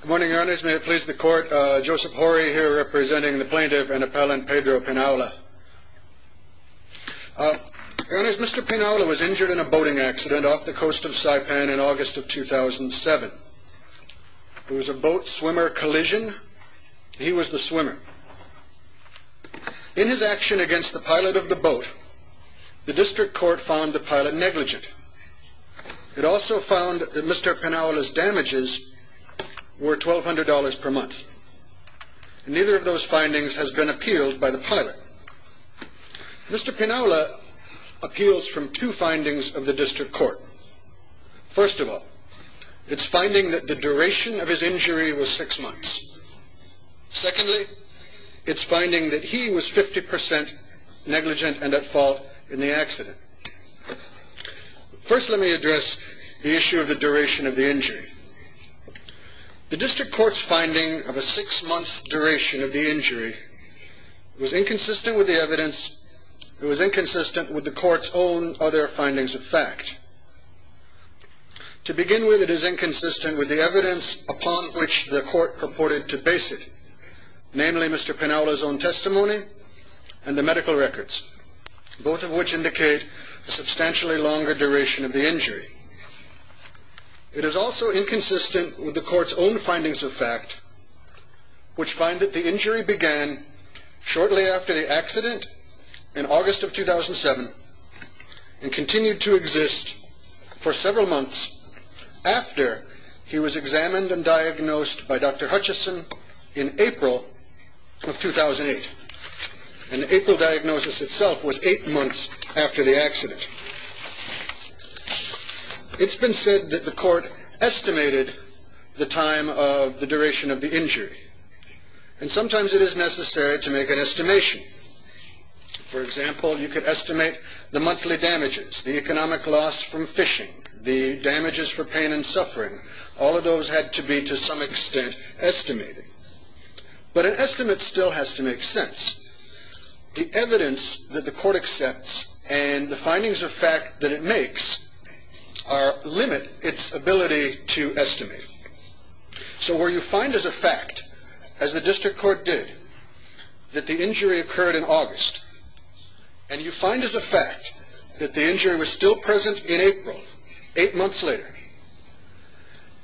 Good morning, Your Honours. May it please the court, Joseph Horry here representing the plaintiff and appellant Pedro Pinaula. Your Honours, Mr. Pinaula was injured in a boating accident off the coast of Saipan in August of 2007. It was a boat swimmer collision. He was the swimmer. In his action against the pilot of the boat, the district court found the pilot negligent. It also found that Mr. Pinaula's damages were $1,200 per month. Neither of those findings has been appealed by the pilot. Mr. Pinaula appeals from two findings of the district court. First of all, it's finding that the duration of his injury was six months. Secondly, it's finding that he was 50% negligent and at fault in the accident. First, let me address the issue of the duration of the injury. The district court's finding of a six-month duration of the injury was inconsistent with the evidence that was inconsistent with the court's own other findings of fact. To begin with, it is inconsistent with the evidence upon which the court purported to base it, namely Mr. Pinaula, both of which indicate a substantially longer duration of the injury. It is also inconsistent with the court's own findings of fact, which find that the injury began shortly after the accident in August of 2007 and continued to exist for several months after he was examined and diagnosed by Dr. Hutchison in April of 2008. The April diagnosis itself was eight months after the accident. It's been said that the court estimated the time of the duration of the injury, and sometimes it is necessary to make an estimation. For example, you could estimate the monthly damages, the economic loss from fishing, the damages for pain and suffering. All of those had to be, to some extent, estimated. But an estimate still has to make sense. The evidence that the court accepts and the findings of fact that it makes limit its ability to estimate. So where you find as a fact, as the district court did, that the injury occurred in August, and you find as a fact that the injury was still present in April, eight months later,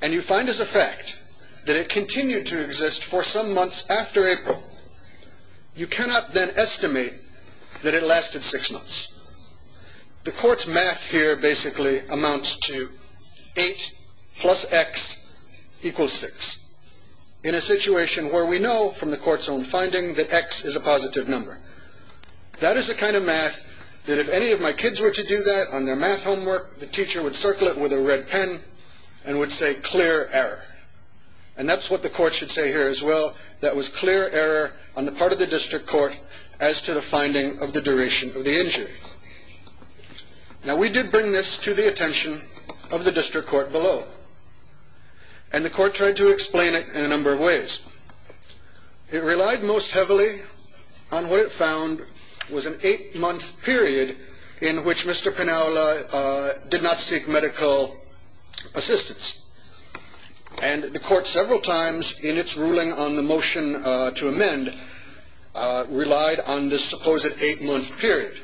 and you find as a fact that it continued to occur, you cannot then estimate that it lasted six months. The court's math here basically amounts to eight plus x equals six, in a situation where we know from the court's own finding that x is a positive number. That is the kind of math that if any of my kids were to do that on their math homework, the teacher would circle it with a red pen and would say, clear error. And that's what the court should say here as well, that was clear error on the part of the district court as to the finding of the duration of the injury. Now we did bring this to the attention of the district court below. And the court tried to explain it in a number of ways. It relied most heavily on what it found was an eight-month period in which Mr. Penaula did not seek medical assistance. And the court several times in its ruling on the motion to amend relied on this supposed eight-month period.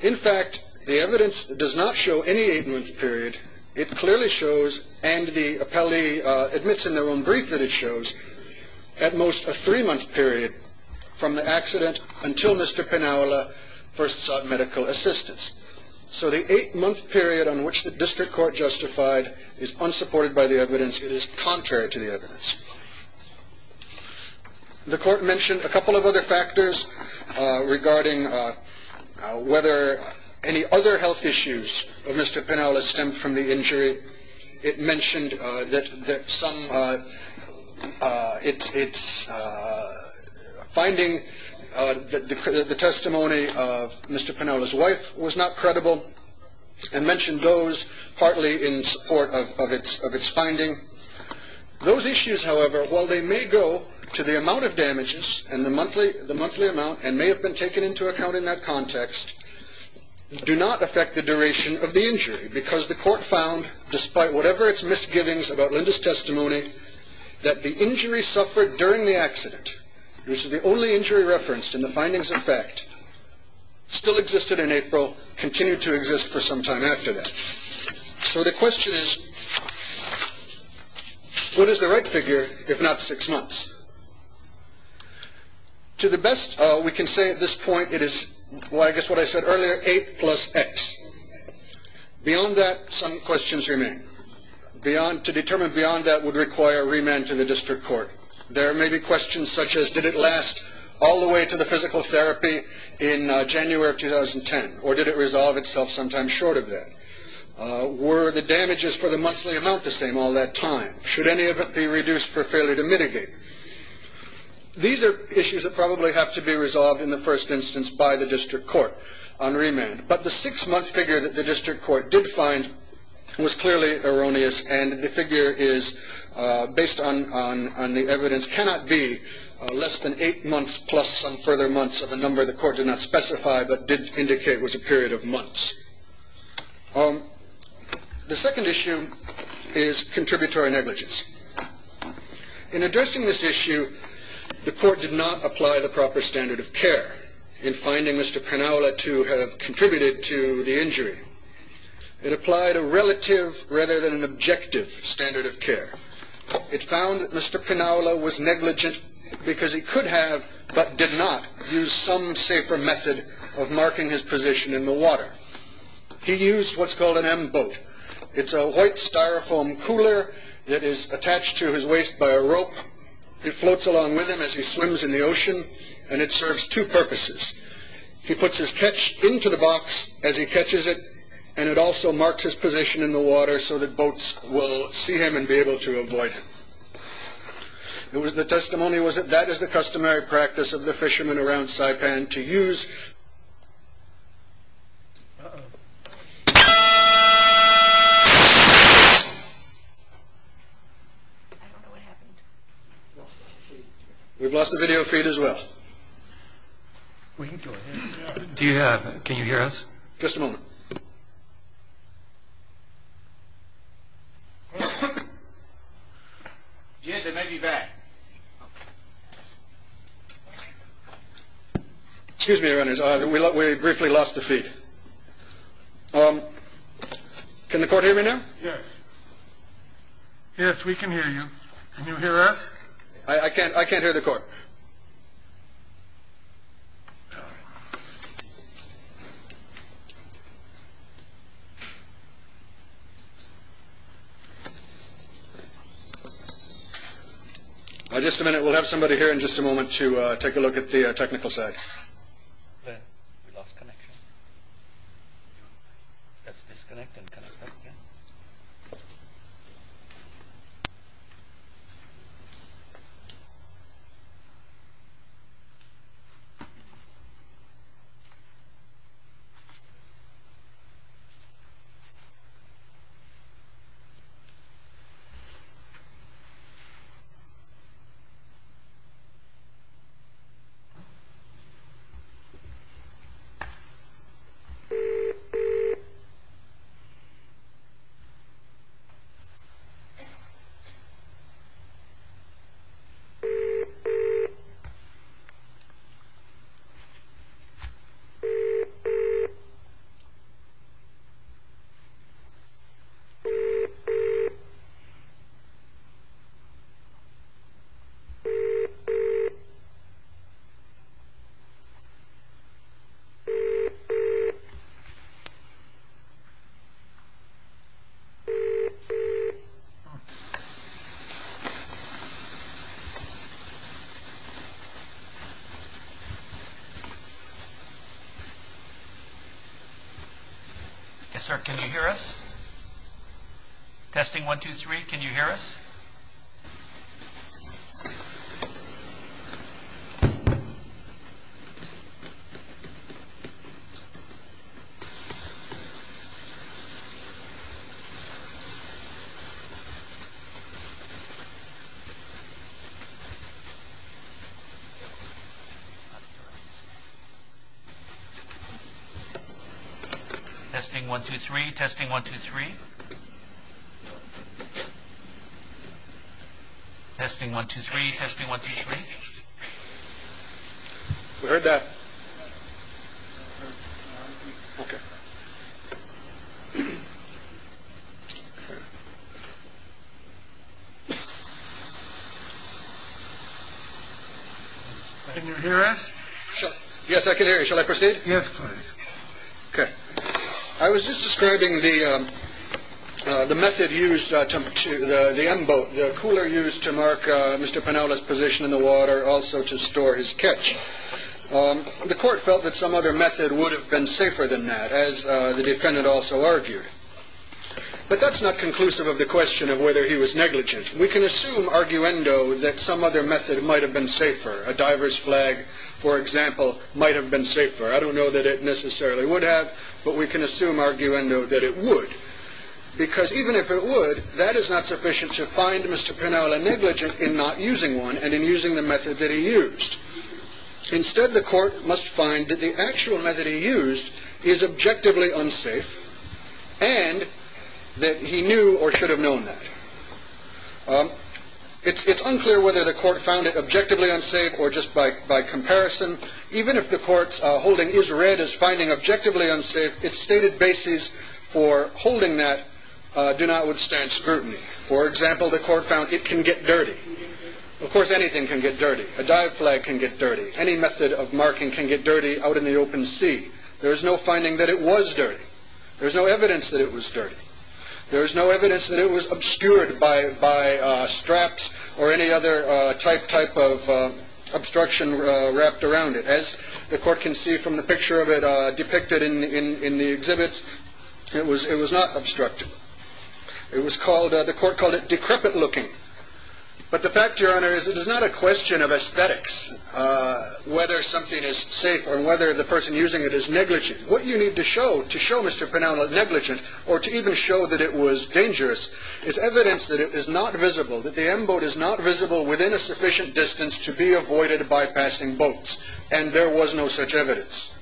In fact, the evidence does not show any eight-month period. It clearly shows, and the appellee admits in their own brief that it shows, at most a three-month period from the accident until Mr. Penaula first sought medical assistance. So the eight-month period on which the district court justified is unsupported by the evidence. It is contrary to the evidence. The court mentioned a couple of other factors regarding whether any other health issues of Mr. Penaula stemmed from the injury. It mentioned that some, it's finding, determining whether the testimony of Mr. Penaula's wife was not credible and mentioned those partly in support of its finding. Those issues, however, while they may go to the amount of damages and the monthly amount and may have been taken into account in that context, do not affect the duration of the injury because the court found, despite whatever its misgivings about Linda's testimony, that the injury suffered during the accident, which is the only injury referenced in the findings in fact, still existed in April, continued to exist for some time after that. So the question is, what is the right figure if not six months? To the best, we can say at this point it is, well, I guess what I said earlier, eight plus X. Beyond that, some require remand to the district court. There may be questions such as, did it last all the way to the physical therapy in January of 2010 or did it resolve itself sometime short of that? Were the damages for the monthly amount the same all that time? Should any of it be reduced for failure to mitigate? These are issues that probably have to be resolved in the first instance by the district court on remand. But the six-month figure that the district court did find was clearly erroneous and the figure is, based on the evidence, cannot be less than eight months plus some further months of a number the court did not specify but did indicate was a period of months. The second issue is contributory negligence. In addressing this issue, the court did not agree. It applied a relative rather than an objective standard of care. It found that Mr. Pinaula was negligent because he could have but did not use some safer method of marking his position in the water. He used what's called an M-boat. It's a white styrofoam cooler that is attached to his waist by a rope. It floats along with him as he swims in the ocean and it serves two purposes. He puts his catch into the box as he catches it and it also marks his position in the water so that boats will see him and be able to avoid him. The testimony was that that is the customary practice of the fishermen around Saipan to use. We've lost the video feed as well. Do you have, can you hear us? Just a moment. Excuse me, your honor, we briefly lost the feed. Can the court hear me now? Yes. Yes, we can hear you. Can you hear us? I can't, I can't hear the court. Just a minute, we'll have somebody here in just a moment to take a look at the technical side. We lost connection. Let's disconnect and connect up again. Yes, sir, can you hear us? Testing one, two, three, can you hear us? Testing one, two, three, testing one, two, three. Testing one, two, three, testing one, two, three. We heard that. Can you hear us? Yes, I can hear you. Shall I proceed? Yes, please. Okay. I was just describing the method used to, the M-boat, the cooler used to mark Mr. Piniella's position in the water, also to store his catch. The court felt that some other method would have been safer than that, as the defendant also argued. But that's not conclusive of the question of whether he was negligent. We can assume, arguendo, that some other method might have been safer. A diver's flag, for example, might have been safer. I don't know that it necessarily would have, but we can assume, arguendo, that it would. Because even if it would, that is not sufficient to find Mr. Piniella negligent in not using one and in using the method that he used. Instead, the court must find that the actual method he used is objectively unsafe, and that he knew or should have known that. It's unclear whether the court found it objectively unsafe or just by comparison. Even if the building is read as finding objectively unsafe, its stated basis for holding that do not withstand scrutiny. For example, the court found it can get dirty. Of course, anything can get dirty. A dive flag can get dirty. Any method of marking can get dirty out in the open sea. There is no finding that it was dirty. There is no evidence that it was dirty. There is no evidence that it was obscured by straps or any other type of obstruction wrapped around it. As the court can see from the picture of it depicted in the exhibits, it was not obstructed. The court called it decrepit-looking. But the fact, Your Honor, is it is not a question of aesthetics, whether something is safe or whether the person using it is negligent. What you need to show to show Mr. Piniella negligent, or to even show that it was dangerous, is evidence that it is not visible, that the M-boat is not visible within a sufficient distance to be avoided by passing boats. And there was no such evidence.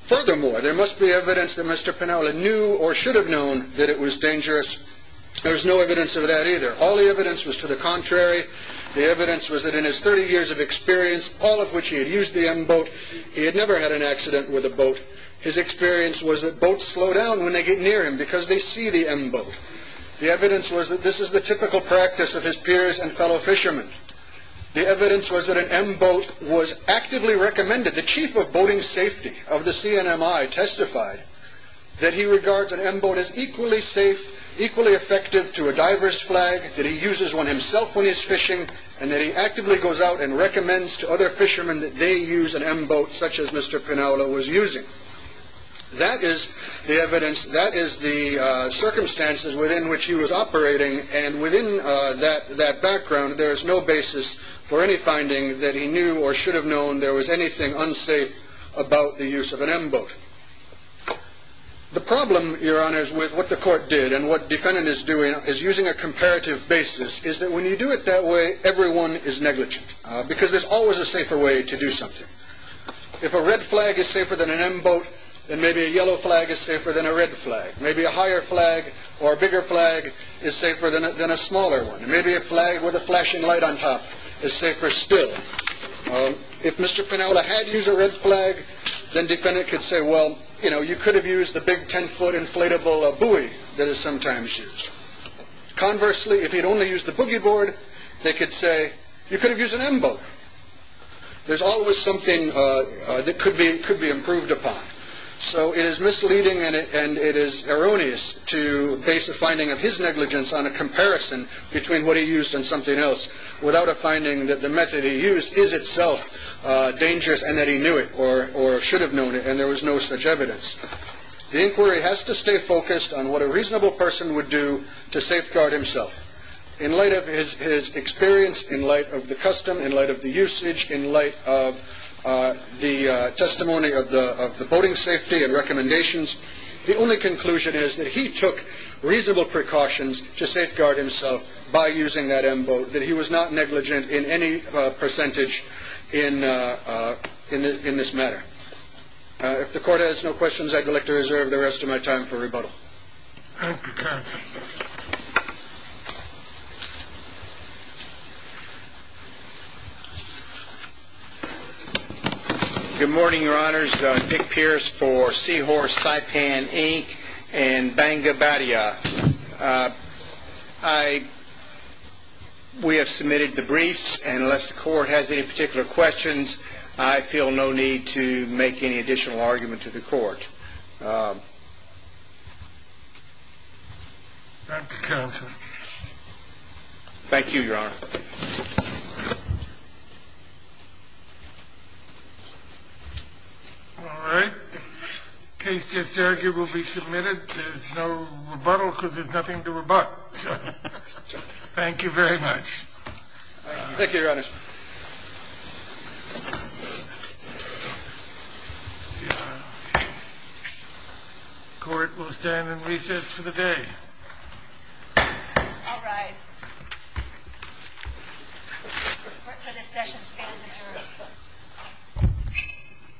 Furthermore, there must be evidence that Mr. Piniella knew or should have known that it was dangerous. There is no evidence of that either. All the evidence was to the contrary. The evidence was that in his 30 years of experience, all of which he had used the M-boat, he had never had an accident with a boat. His experience was that boats slow down when they get near him because they see the M-boat. The evidence was that this is the typical practice of his fellow fishermen. The evidence was that an M-boat was actively recommended. The chief of boating safety of the CNMI testified that he regards an M-boat as equally safe, equally effective to a diver's flag, that he uses one himself when he's fishing, and that he actively goes out and recommends to other fishermen that they use an M-boat such as Mr. Piniella was using. That is the evidence, that is the circumstances within which he was operating, and within that background, there is no basis for any finding that he knew or should have known there was anything unsafe about the use of an M-boat. The problem, Your Honors, with what the court did and what defendant is doing is using a comparative basis, is that when you do it that way, everyone is negligent, because there's always a safer way to do something. If a red flag is safer than an M-boat, then maybe a higher flag or a bigger flag is safer than a smaller one. Maybe a flag with a flashing light on top is safer still. If Mr. Piniella had used a red flag, then defendant could say, well, you could have used the big 10-foot inflatable buoy that is sometimes used. Conversely, if he had only used the boogie board, they could say, you could have used an M-boat. There's always something that could be improved upon. It is misleading and it is erroneous to base a finding of his negligence on a comparison between what he used and something else without a finding that the method he used is itself dangerous and that he knew it or should have known it, and there was no such evidence. The inquiry has to stay focused on what a reasonable person would do to safeguard himself. In light of his experience, in light of the custom, in light of the usage, in light of the testimony of the boating safety and recommendations, the only conclusion is that he took reasonable precautions to safeguard himself by using that M-boat, that he was not negligent in any percentage in this matter. If the Court has no questions, I'd like to reserve the rest of my time for rebuttal. Thank you, counsel. Good morning, Your Honors. I'm Dick Pierce for Seahorse Saipan Inc. in Bangabadia. We have submitted the briefs, and unless the Court has any particular questions, I feel no need to make any additional argument to the Court. Thank you, counsel. Thank you, Your Honor. All right. The case just argued will be submitted. There's no rebuttal because there's nothing to rebut. Thank you very much. Thank you, Your Honors. The Court will stand in recess for the day. I'll rise. The Court for this session stands adjourned.